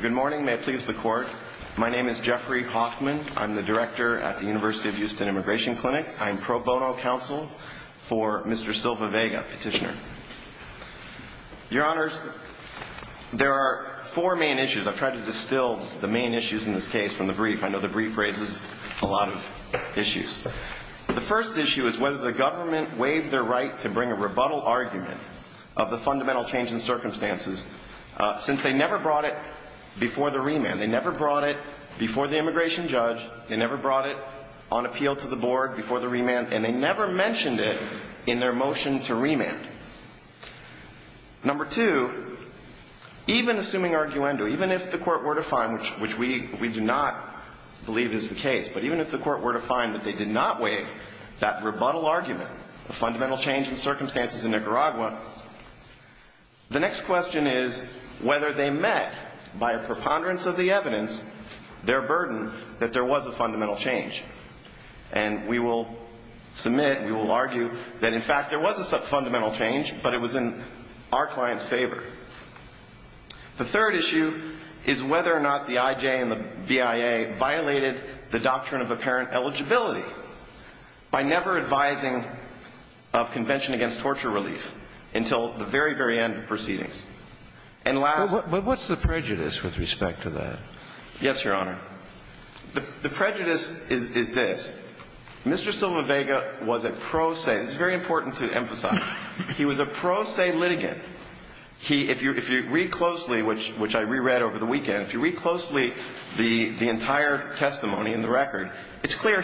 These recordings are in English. Good morning. May it please the court. My name is Jeffrey Hoffman. I'm the director at the University of Houston Immigration Clinic. I'm pro bono counsel for Mr. Silva Vega, petitioner. Your honors, there are four main issues. I've tried to distill the main issues in this case from the brief. I know the brief raises a lot of issues. The first issue is whether the government waived their right to bring a rebuttal argument of the fundamental change in circumstances, since they never brought it before the remand. They never brought it before the immigration judge. They never brought it on appeal to the board before the remand, and they never mentioned it in their motion to remand. Number two, even assuming arguendo, even if the court were to find, which we do not believe is the case, but even if the court were to find that they did not waive that rebuttal argument, the fundamental change in circumstances in Nicaragua, the next question is whether they met, by a preponderance of the evidence, their burden that there was a fundamental change. And we will submit, we will argue, that in fact there was a fundamental change, but it was in our client's favor. The third issue is whether or not the I.J. and the B.I.A. violated the doctrine of apparent eligibility by never advising a convention against torture relief until the very, very end of proceedings. And last But what's the prejudice with respect to that? Yes, Your Honor. The prejudice is this. Mr. Silva-Vega was a pro se. This is very important to emphasize. He was a pro se litigant. He, if you read closely, which I reread over the year,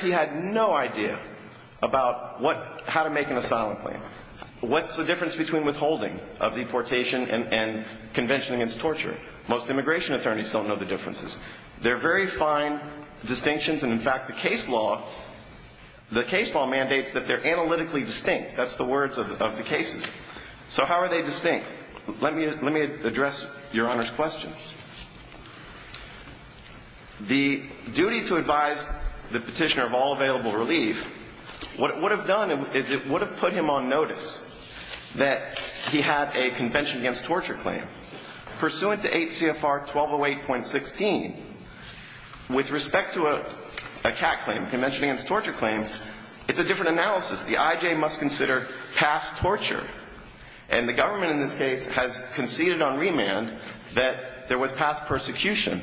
he had no idea about what, how to make an asylum plan. What's the difference between withholding of deportation and convention against torture? Most immigration attorneys don't know the differences. They're very fine distinctions, and in fact, the case law, the case law mandates that they're analytically distinct. That's the words of the cases. So how are they distinct? Let me, let me address Your Honor's question. The duty to advise the petitioner of all available relief, what it would have done is it would have put him on notice that he had a convention against torture claim. Pursuant to 8 CFR 1208.16, with respect to a CAC claim, convention against torture claim, it's a different analysis. The I.J. must consider past torture. And the government in this case has conceded on remand that there was past persecution.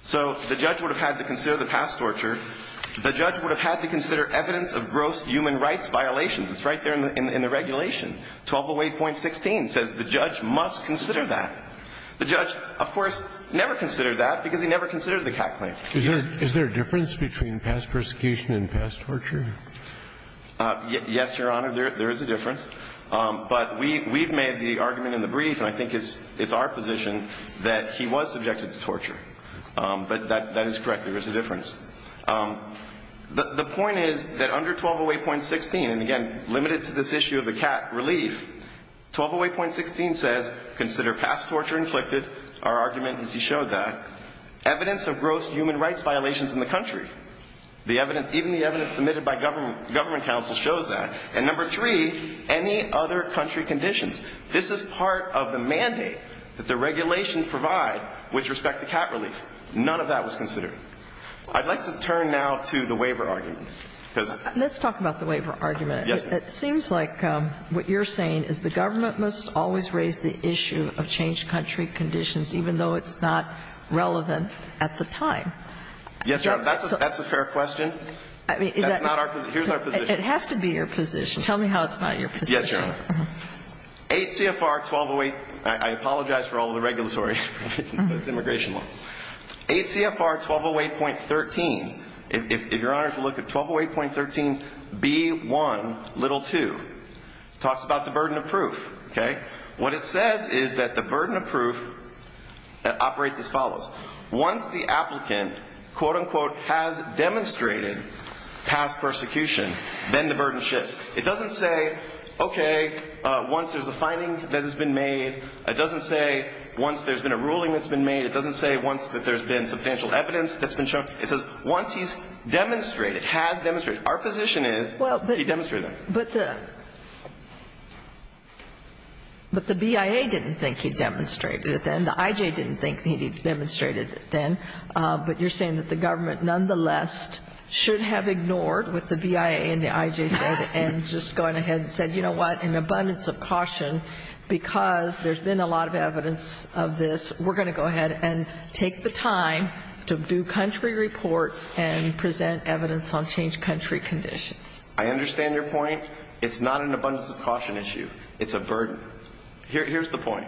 So the judge would have had to consider the past torture. The judge would have had to consider evidence of gross human rights violations. It's right there in the regulation. 1208.16 says the judge must consider that. The judge, of course, never considered that because he never considered the CAC claim. Is there a difference between past persecution and past torture? Yes, Your Honor, there is a difference. But we've made the argument in the brief, and I think it's our position, that he was subjected to torture. But that is correct. There is a difference. The point is that under 1208.16, and again, limited to this issue of the CAC relief, 1208.16 says consider past torture inflicted. Our argument is he showed that. Evidence of gross human rights violations in the country. The evidence, even the evidence submitted by government counsel shows that. And number three, any other country conditions. This is part of the mandate that the regulation provide with respect to CAC relief. None of that was considered. I'd like to turn now to the waiver argument. Let's talk about the waiver argument. It seems like what you're saying is the government must always raise the issue of changed country conditions, even though it's not relevant at the time. Yes, Your Honor, that's a fair question. That's not our position. Here's our position. It has to be your position. Tell me how it's not your position. Yes, Your Honor. ACFR 1208, I apologize for all the regulatory, but it's immigration law. ACFR 1208.13, if Your Honors will look at 1208.13b1l2, talks about the burden of proof. Okay? What it says is that the burden of proof operates as follows. Once the applicant, quote, unquote, has demonstrated past persecution, then the burden shifts. It doesn't say, okay, once there's a finding that has been made. It doesn't say once there's been a ruling that's been made. It doesn't say once that there's been substantial evidence that's been shown. It says once he's demonstrated, has demonstrated. Our position is he demonstrated. But the BIA didn't think he demonstrated it then. The I.J. didn't think he demonstrated it then. But you're saying that the government nonetheless should have ignored what the BIA and the I.J. said and just gone ahead and said, you know what, in abundance of caution, because there's been a lot of evidence of this, we're going to go ahead and take the time to do country reports and present evidence on changed country conditions. I understand your point. It's not an abundance of caution issue. It's a burden. Here's the point.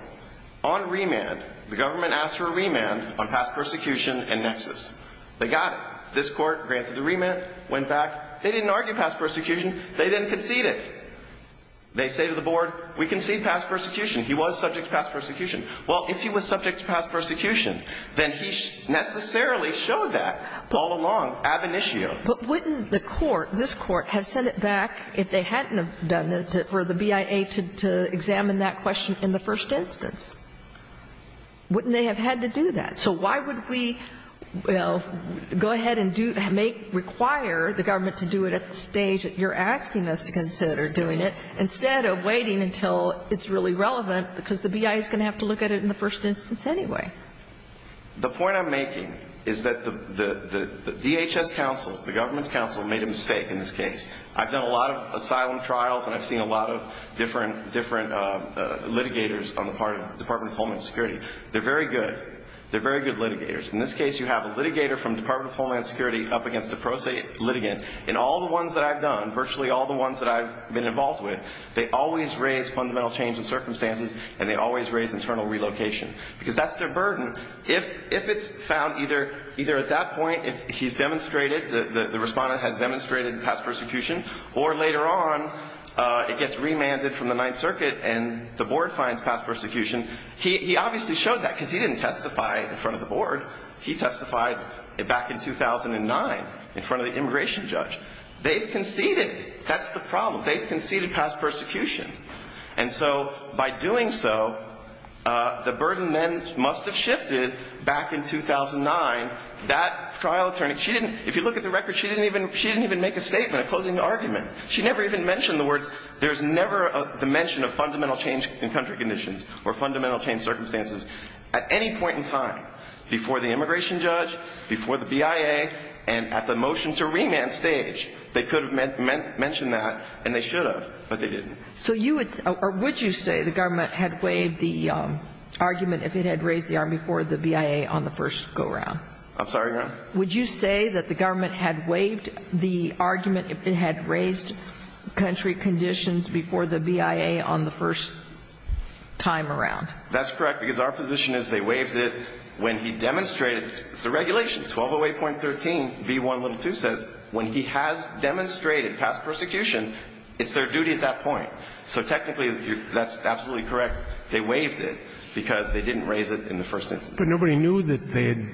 On remand, the government asked for a remand on past persecution and nexus. They got it. This Court granted the remand, went back. They didn't argue past persecution. They then conceded. They say to the Board, we concede past persecution. He was subject to past persecution. Well, if he was subject to past persecution, then he necessarily showed that all along ab initio. But wouldn't the Court, this Court, have sent it back, if they hadn't have done it, for the BIA to examine that question in the first instance? Wouldn't they have had to do that? So why would we go ahead and do, make, require the government to do it at the stage that you're asking us to consider doing it, instead of waiting until it's really relevant, because the BIA is going to have to look at it in the first instance anyway? The point I'm making is that the DHS counsel, the government's counsel, made a mistake in this case. I've done a lot of asylum trials, and I've seen a lot of different litigators on the part of the Department of Homeland Security. They're very good. They're very good litigators. In this case, you have a litigator from the Department of Homeland Security up against a pro se litigant. In all the ones that I've done, virtually all the ones that I've been involved with, they always raise fundamental change in circumstances, and they always raise internal relocation, because that's their burden. If it's found either at that point, if he's demonstrated, the respondent has demonstrated past persecution, or later on it gets remanded from the Ninth Circuit and the board finds past persecution, he obviously showed that because he didn't testify in front of the board. He testified back in 2009 in front of the immigration judge. They've conceded. That's the problem. They've conceded past persecution. And so by doing so, the burden then must have shifted back in 2009. That trial attorney, she didn't, if you look at the record, she didn't even make a statement, a closing argument. She never even mentioned the words, there's never a mention of fundamental change in country conditions or fundamental change circumstances at any point in time before the immigration judge, before the BIA, and at the motion to remand stage. They could have mentioned that, and they should have, but they didn't. So you would say, or would you say the government had waived the argument if it had raised the arm before the BIA on the first go-around? I'm sorry, Your Honor? Would you say that the government had waived the argument if it had raised country conditions before the BIA on the first time around? That's correct, because our position is they waived it when he demonstrated. It's the regulation, 1208.13b1l2 says when he has demonstrated past persecution, it's their duty at that point. So technically, that's absolutely correct. They waived it because they didn't raise it in the first instance. But nobody knew that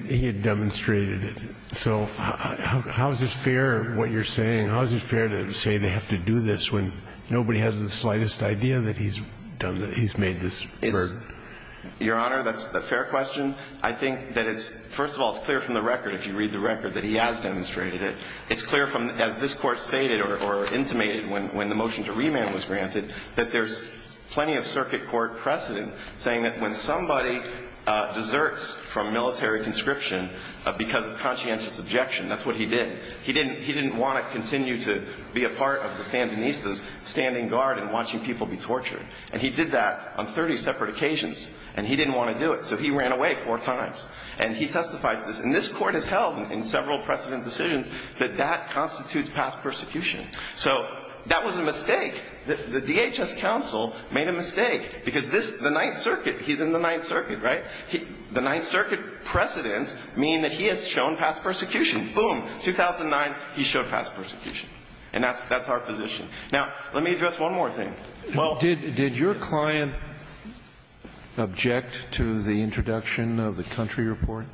he had demonstrated it. So how is it fair, what you're saying, how is it fair to say they have to do this when nobody has the slightest idea that he's made this verdict? Your Honor, that's a fair question. I think that it's, first of all, it's clear from the record, if you read the record, that he has demonstrated it. It's clear from, as this Court stated or intimated when the motion to remand was granted, that there's plenty of circuit court precedent saying that when somebody deserts from military conscription because of conscientious objection, that's what he did. He didn't want to continue to be a part of the Sandinistas standing guard and watching people be tortured. And he did that on 30 separate occasions, and he didn't want to do it. So he ran away four times. And he testified to this. And this Court has held in several precedent decisions that that constitutes past persecution. So that was a mistake. The DHS counsel made a mistake because this, the Ninth Circuit, he's in the Ninth Circuit, right? The Ninth Circuit precedents mean that he has shown past persecution. Boom, 2009, he showed past persecution. And that's our position. Now, let me address one more thing. Well, did your client object to the introduction of the country report?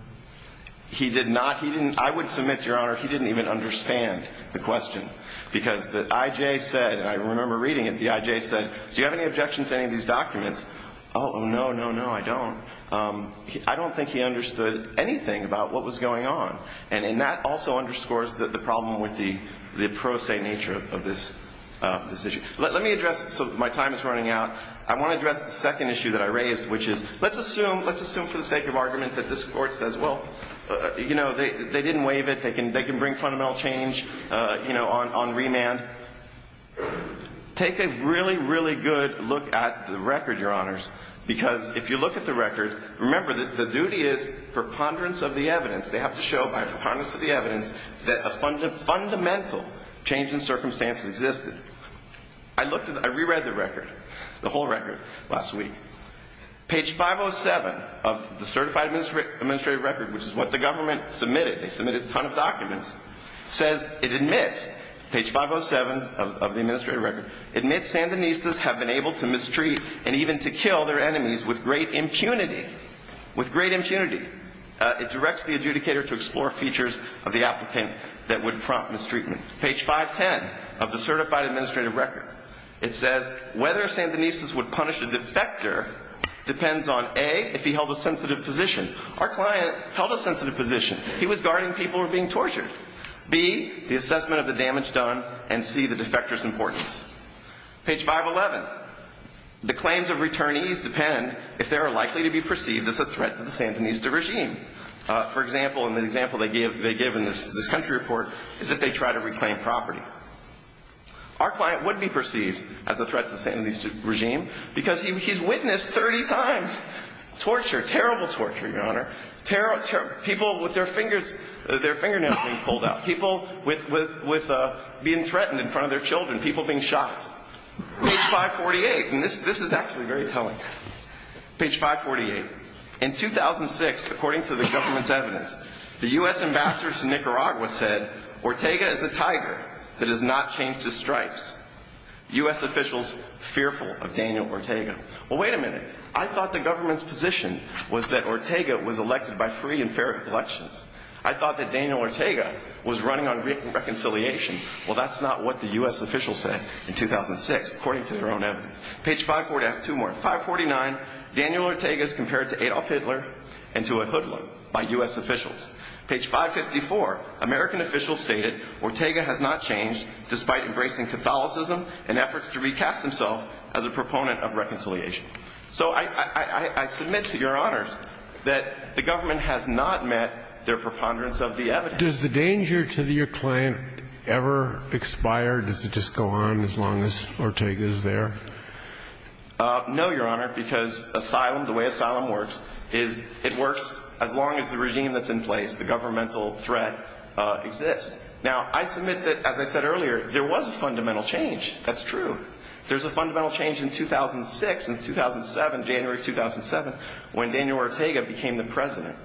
He did not. He didn't. I would submit, Your Honor, he didn't even understand the question because the I.J. said, and I remember reading it, the I.J. said, do you have any objection to any of these documents? Oh, no, no, no, I don't. I don't think he understood anything about what was going on. And that also underscores the problem with the pro se nature of this issue. Let me address, so my time is running out, I want to address the second issue that I raised, which is let's assume, let's assume for the sake of argument that this Court says, well, you know, they didn't waive it, they can bring fundamental change, you know, on remand. Take a really, really good look at the record, Your Honors, because if you look at the record, remember that the duty is preponderance of the evidence. They have to show by preponderance of the evidence that a fundamental change in circumstance existed. I re-read the record, the whole record, last week. Page 507 of the Certified Administrative Record, which is what the government submitted, they submitted a ton of documents, says it admits, page 507 of the Administrative Record, admits Sandinistas have been able to mistreat and even to kill their enemies with great impunity, with great impunity. It directs the adjudicator to explore features of the applicant that would prompt mistreatment. Page 510 of the Certified Administrative Record, it says whether Sandinistas would punish a defector depends on, A, if he held a sensitive position. Our client held a sensitive position. He was guarding people who were being tortured. B, the assessment of the damage done, and C, the defector's importance. Page 511, the claims of returnees depend if they are likely to be perceived as a threat to the Sandinista regime. For example, in the example they give in this country report is that they try to reclaim property. Our client would be perceived as a threat to the Sandinista regime because he's witnessed 30 times torture, terrible torture, Your Honor, people with their fingernails being pulled out, people with being threatened in front of their children, people being shot. Page 548, and this is actually very telling. Page 548. In 2006, according to the government's evidence, the U.S. ambassadors to Nicaragua said, Ortega is a tiger that does not change his stripes. U.S. officials fearful of Daniel Ortega. Well, wait a minute. I thought the government's position was that Ortega was elected by free and fair elections. I thought that Daniel Ortega was running on reconciliation. Well, that's not what the U.S. officials said in 2006, according to their own evidence. Page 549, Daniel Ortega is compared to Adolf Hitler and to a hoodlum by U.S. officials. Page 554, American officials stated Ortega has not changed, despite embracing Catholicism and efforts to recast himself as a proponent of reconciliation. So I submit to Your Honors that the government has not met their preponderance of the evidence. Does the danger to your claim ever expire? Does it just go on as long as Ortega is there? No, Your Honor, because asylum, the way asylum works, is it works as long as the regime that's in place, the governmental threat, exists. Now, I submit that, as I said earlier, there was a fundamental change. That's true. There's a fundamental change in 2006 and 2007, January 2007, when Daniel Ortega became the president.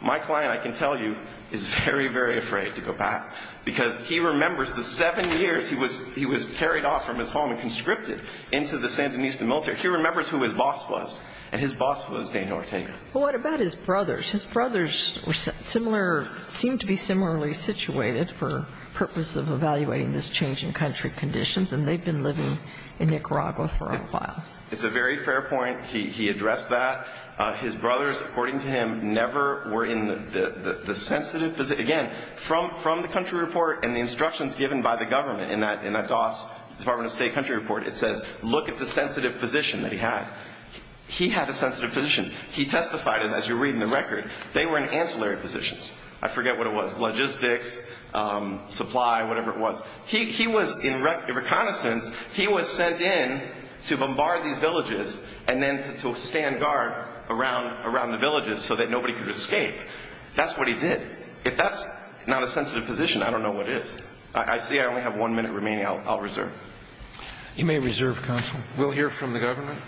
My client, I can tell you, is very, very afraid to go back, because he remembers the seven years he was carried off from his home and conscripted into the Sandinista military. He remembers who his boss was, and his boss was Daniel Ortega. Well, what about his brothers? His brothers were similar or seemed to be similarly situated for purpose of evaluating this change in country conditions, and they've been living in Nicaragua for a while. It's a very fair point. He addressed that. His brothers, according to him, never were in the sensitive position. Again, from the country report and the instructions given by the government in that DOS, Department of State country report, it says look at the sensitive position that he had. He had a sensitive position. He testified, and as you read in the record, they were in ancillary positions. I forget what it was, logistics, supply, whatever it was. He was in reconnaissance. He was sent in to bombard these villages and then to stand guard around the villages so that nobody could escape. That's what he did. If that's not a sensitive position, I don't know what is. I see I only have one minute remaining. I'll reserve. You may reserve, Counsel. We'll hear from the government.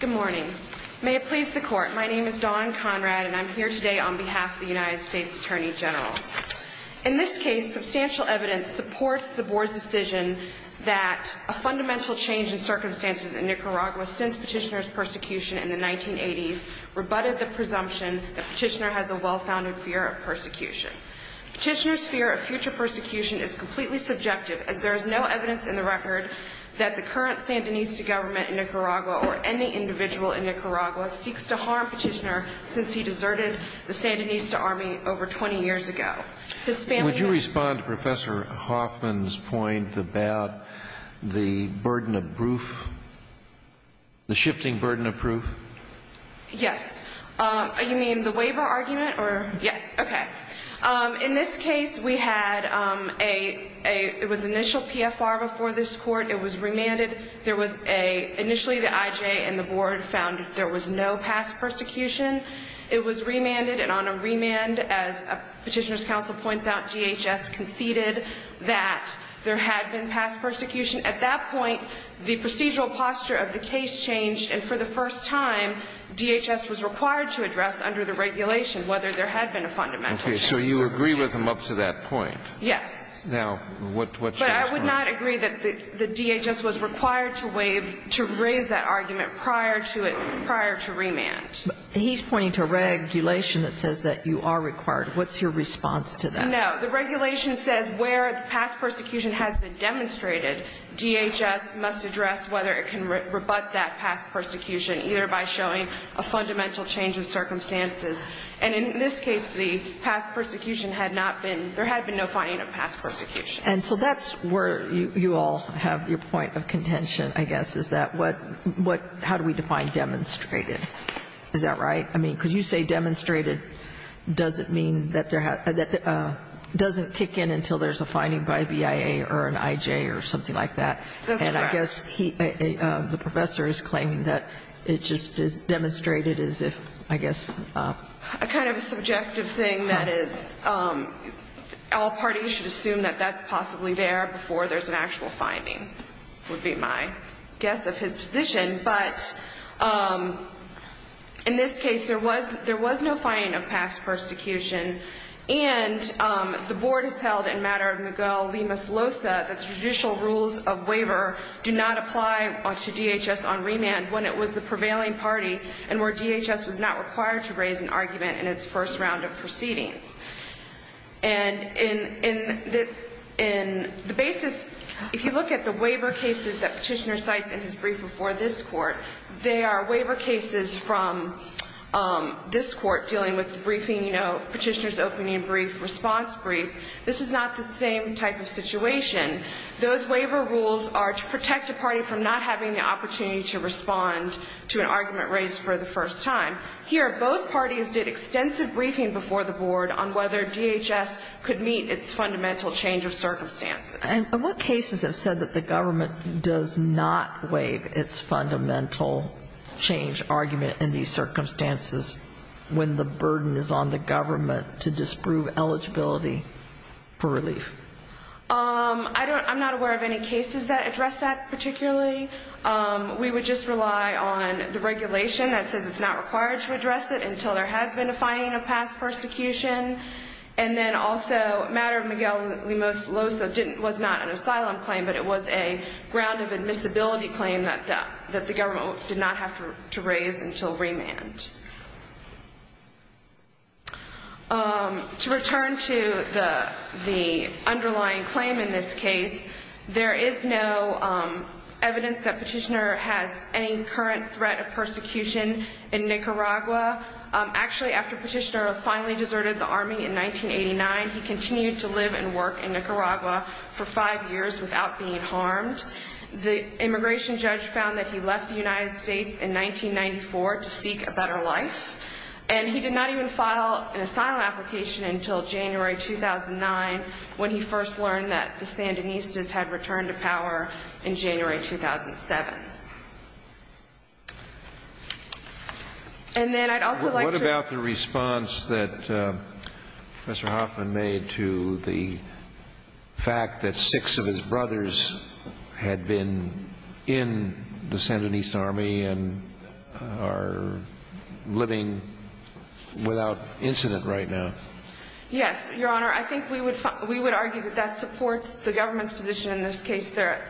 Good morning. May it please the Court, my name is Dawn Conrad, and I'm here today on behalf of the United States Attorney General. In this case, substantial evidence supports the Board's decision that a fundamental change in circumstances in Nicaragua since Petitioner's persecution in the 1980s rebutted the presumption that Petitioner has a well-founded fear of persecution. Petitioner's fear of future persecution is completely subjective, as there is no evidence in the record that the current Sandinista government in Nicaragua or any individual in Nicaragua seeks to harm Petitioner since he deserted the Sandinista army over 20 years ago. Would you respond to Professor Hoffman's point about the burden of proof, the shifting burden of proof? Yes. You mean the waiver argument? Yes. Okay. In this case, we had an initial PFR before this Court. It was remanded. Initially, the IJ and the Board found that there was no past persecution. It was remanded, and on a remand, as Petitioner's Counsel points out, DHS conceded that there had been past persecution. At that point, the procedural posture of the case changed, and for the first time, DHS was required to address under the regulation whether there had been a fundamental change. Okay. So you agree with him up to that point? Yes. Now, what's your response? But I would not agree that DHS was required to raise that argument prior to remand. He's pointing to regulation that says that you are required. What's your response to that? No. The regulation says where the past persecution has been demonstrated, DHS must address whether it can rebut that past persecution, either by showing a fundamental change of circumstances. And in this case, the past persecution had not been – there had been no finding of past persecution. And so that's where you all have your point of contention, I guess, is that what – how do we define demonstrated? Is that right? I mean, because you say demonstrated doesn't mean that there – doesn't kick in until there's a finding by BIA or an IJ or something like that. That's correct. And I guess he – the professor is claiming that it just is demonstrated as if, I guess – A kind of a subjective thing that is all parties should assume that that's possibly there before there's an actual finding would be my guess of his position. But in this case, there was no finding of past persecution. And the board has held in matter of Miguel Lima-Solosa that the judicial rules of waiver do not apply to DHS on remand when it was the prevailing party and where DHS was not required to raise an argument in its first round of proceedings. And in the basis – if you look at the waiver cases that Petitioner cites in his brief before this court, they are waiver cases from this court dealing with briefing, you know, Petitioner's opening brief, response brief. This is not the same type of situation. Those waiver rules are to protect a party from not having the opportunity to respond to an argument raised for the first time. Here, both parties did extensive briefing before the board on whether DHS could meet its fundamental change of circumstances. And what cases have said that the government does not waive its fundamental change of argument in these circumstances when the burden is on the government to disprove eligibility for relief? I'm not aware of any cases that address that particularly. We would just rely on the regulation that says it's not required to address it until there has been a finding of past persecution. And then also, matter of Miguel Lima-Solosa was not an asylum claim, but it was a ground of admissibility claim that the government did not have to raise until remand. To return to the underlying claim in this case, there is no evidence that Petitioner has any current threat of persecution in Nicaragua. Actually, after Petitioner finally deserted the Army in 1989, he continued to live and work in Nicaragua for five years without being harmed. The immigration judge found that he left the United States in 1994 to seek a better life. And he did not even file an asylum application until January 2009 when he first learned that the Sandinistas had returned to power in January 2007. And then I'd also like to ---- the fact that six of his brothers had been in the Sandinista Army and are living without incident right now. Yes, Your Honor. I think we would argue that that supports the government's position in this case that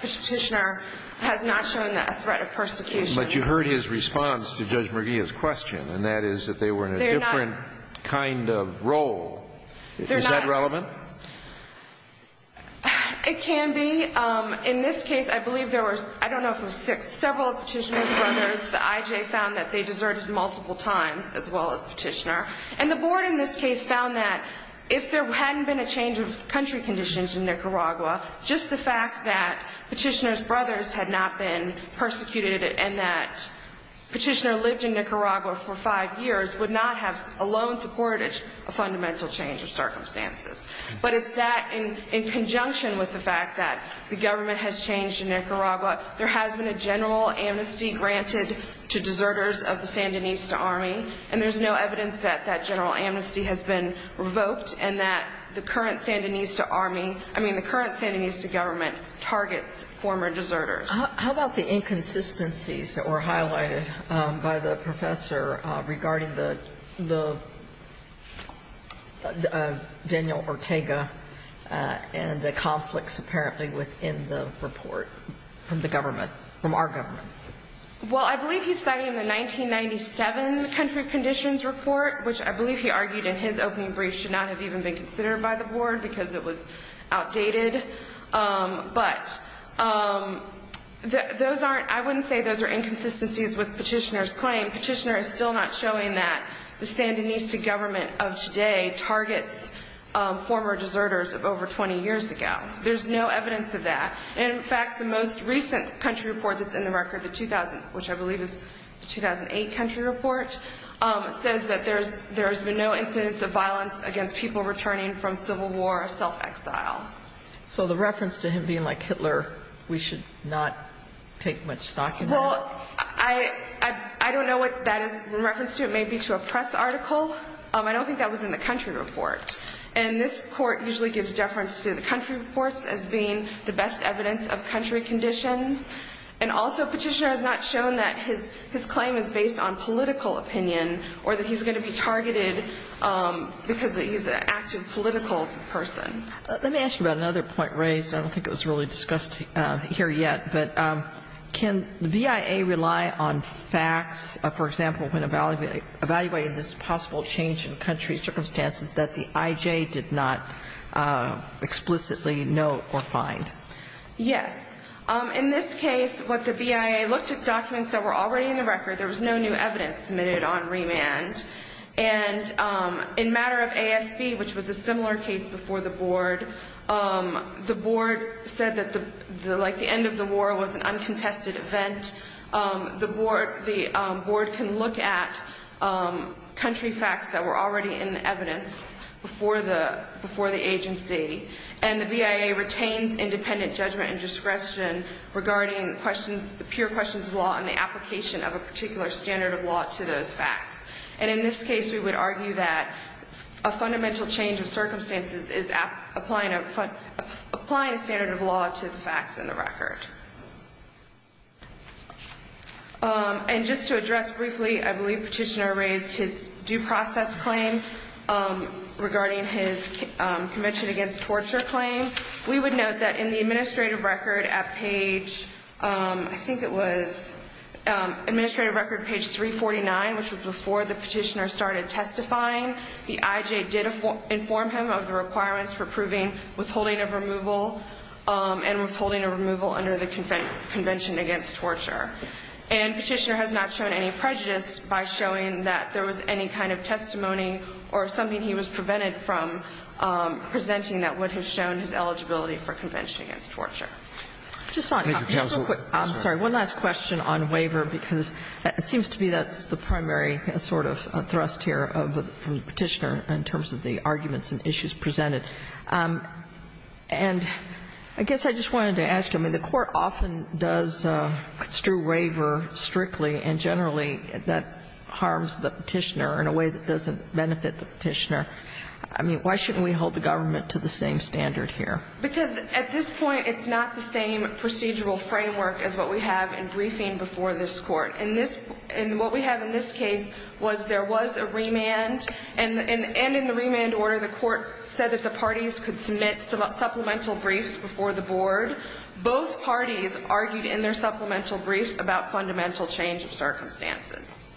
Petitioner has not shown a threat of persecution. But you heard his response to Judge Murguia's question, and that is that they were in a different kind of role. Is that relevant? It can be. In this case, I believe there were, I don't know if it was six, several Petitioner's brothers. The IJ found that they deserted multiple times, as well as Petitioner. And the board in this case found that if there hadn't been a change of country conditions in Nicaragua, just the fact that Petitioner's brothers had not been persecuted and that Petitioner lived in Nicaragua for five years would not have alone supported a fundamental change of circumstances. But it's that in conjunction with the fact that the government has changed in Nicaragua, there has been a general amnesty granted to deserters of the Sandinista Army, and there's no evidence that that general amnesty has been revoked and that the current Sandinista Army, I mean the current Sandinista government, targets former deserters. How about the inconsistencies that were highlighted by the professor regarding the Daniel Ortega and the conflicts apparently within the report from the government, from our government? Well, I believe he's citing the 1997 country conditions report, which I believe he argued in his opening brief should not have even been considered by the board because it was outdated. But those aren't, I wouldn't say those are inconsistencies with Petitioner's claim. Petitioner is still not showing that the Sandinista government of today targets former deserters of over 20 years ago. There's no evidence of that. In fact, the most recent country report that's in the record, the 2000, which I believe is the 2008 country report, says that there's been no incidents of violence against people returning from civil war or self-exile. So the reference to him being like Hitler, we should not take much stock in that? Well, I don't know what that is in reference to. It may be to a press article. I don't think that was in the country report. And this court usually gives deference to the country reports as being the best evidence of country conditions. And also Petitioner has not shown that his claim is based on political opinion or that he's going to be targeted because he's an active political person. Let me ask you about another point raised. I don't think it was really discussed here yet. But can the BIA rely on facts, for example, when evaluating this possible change in country circumstances that the IJ did not explicitly note or find? Yes. In this case, what the BIA looked at documents that were already in the record. There was no new evidence submitted on remand. And in matter of ASB, which was a similar case before the board, the board said that the end of the war was an uncontested event. The board can look at country facts that were already in the evidence before the agency. And the BIA retains independent judgment and discretion regarding pure questions of law and the application of a particular standard of law to those facts. And in this case, we would argue that a fundamental change of circumstances is applying a standard of law to the facts in the record. And just to address briefly, I believe Petitioner raised his due process claim regarding his Convention Against Torture claim. We would note that in the administrative record at page, I think it was administrative record page 349, which was before the petitioner started testifying, the IJ did inform him of the requirements for approving withholding of removal and withholding of removal under the Convention Against Torture. And Petitioner has not shown any prejudice by showing that there was any kind of testimony or something he was prevented from presenting that would have shown his eligibility for Convention Against Torture. I'm sorry, one last question on waiver, because it seems to be that's the primary sort of thrust here from Petitioner in terms of the arguments and issues presented. And I guess I just wanted to ask, I mean, the Court often does strew waiver strictly and generally that harms the petitioner in a way that doesn't benefit the petitioner. I mean, why shouldn't we hold the government to the same standard here? Because at this point, it's not the same procedural framework as what we have in briefing before this Court. And what we have in this case was there was a remand, and in the remand order, the Court said that the parties could submit supplemental briefs before the board. And both parties argued in their supplemental briefs about fundamental change of circumstances.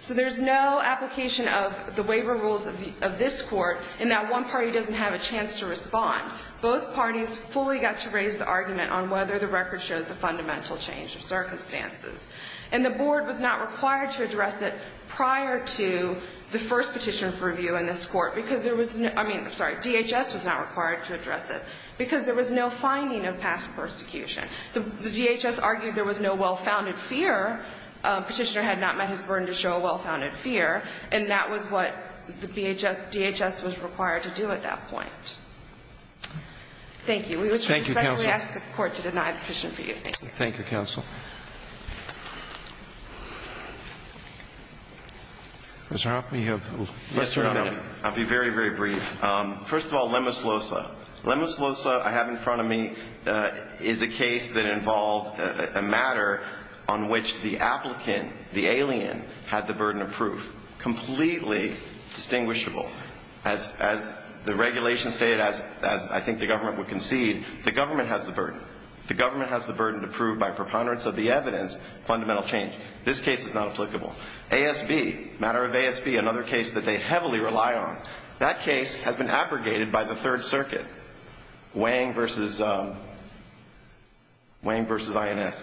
So there's no application of the waiver rules of this Court in that one party doesn't have a chance to respond. Both parties fully got to raise the argument on whether the record shows a fundamental change of circumstances. And the board was not required to address it prior to the first petition for review in this Court, because there was no – I mean, I'm sorry, DHS was not required to address it, because there was no finding of past persecution. The DHS argued there was no well-founded fear. Petitioner had not met his burden to show a well-founded fear, and that was what the DHS was required to do at that point. Thank you. We respectfully ask the Court to deny the petition for you. Thank you. Thank you, counsel. Mr. Hoffman, you have less than a minute. I'll be very, very brief. First of all, Lemus Losa. Lemus Losa I have in front of me is a case that involved a matter on which the applicant, the alien, had the burden of proof. Completely distinguishable. As the regulation stated, as I think the government would concede, the government has the burden. The government has the burden to prove by preponderance of the evidence fundamental change. This case is not applicable. ASB, matter of ASB, another case that they heavily rely on. That case has been abrogated by the Third Circuit. Wang versus INS.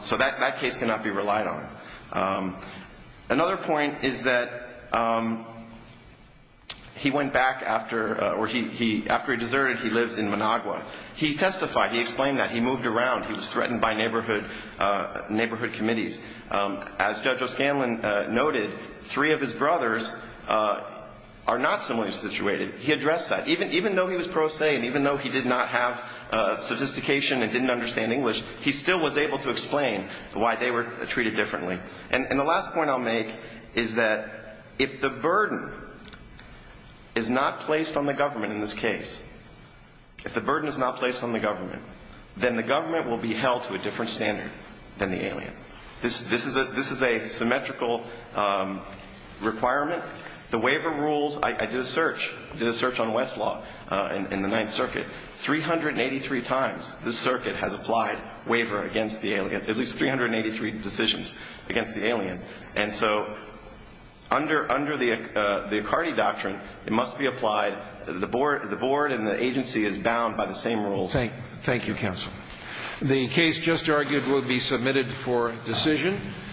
So that case cannot be relied on. Another point is that he went back after he deserted, he lived in Managua. He testified. He explained that. He moved around. He was threatened by neighborhood committees. As Judge O'Scanlan noted, three of his brothers are not similarly situated. He addressed that. Even though he was pro se and even though he did not have sophistication and didn't understand English, he still was able to explain why they were treated differently. And the last point I'll make is that if the burden is not placed on the government in this case, if the burden is not placed on the government, then the government will be held to a different standard than the alien. This is a symmetrical requirement. The waiver rules, I did a search. I did a search on Westlaw in the Ninth Circuit. 383 times this circuit has applied waiver against the alien, at least 383 decisions against the alien. And so under the Accardi Doctrine, it must be applied. The board and the agency is bound by the same rules. Thank you, counsel. The case just argued will be submitted for decision.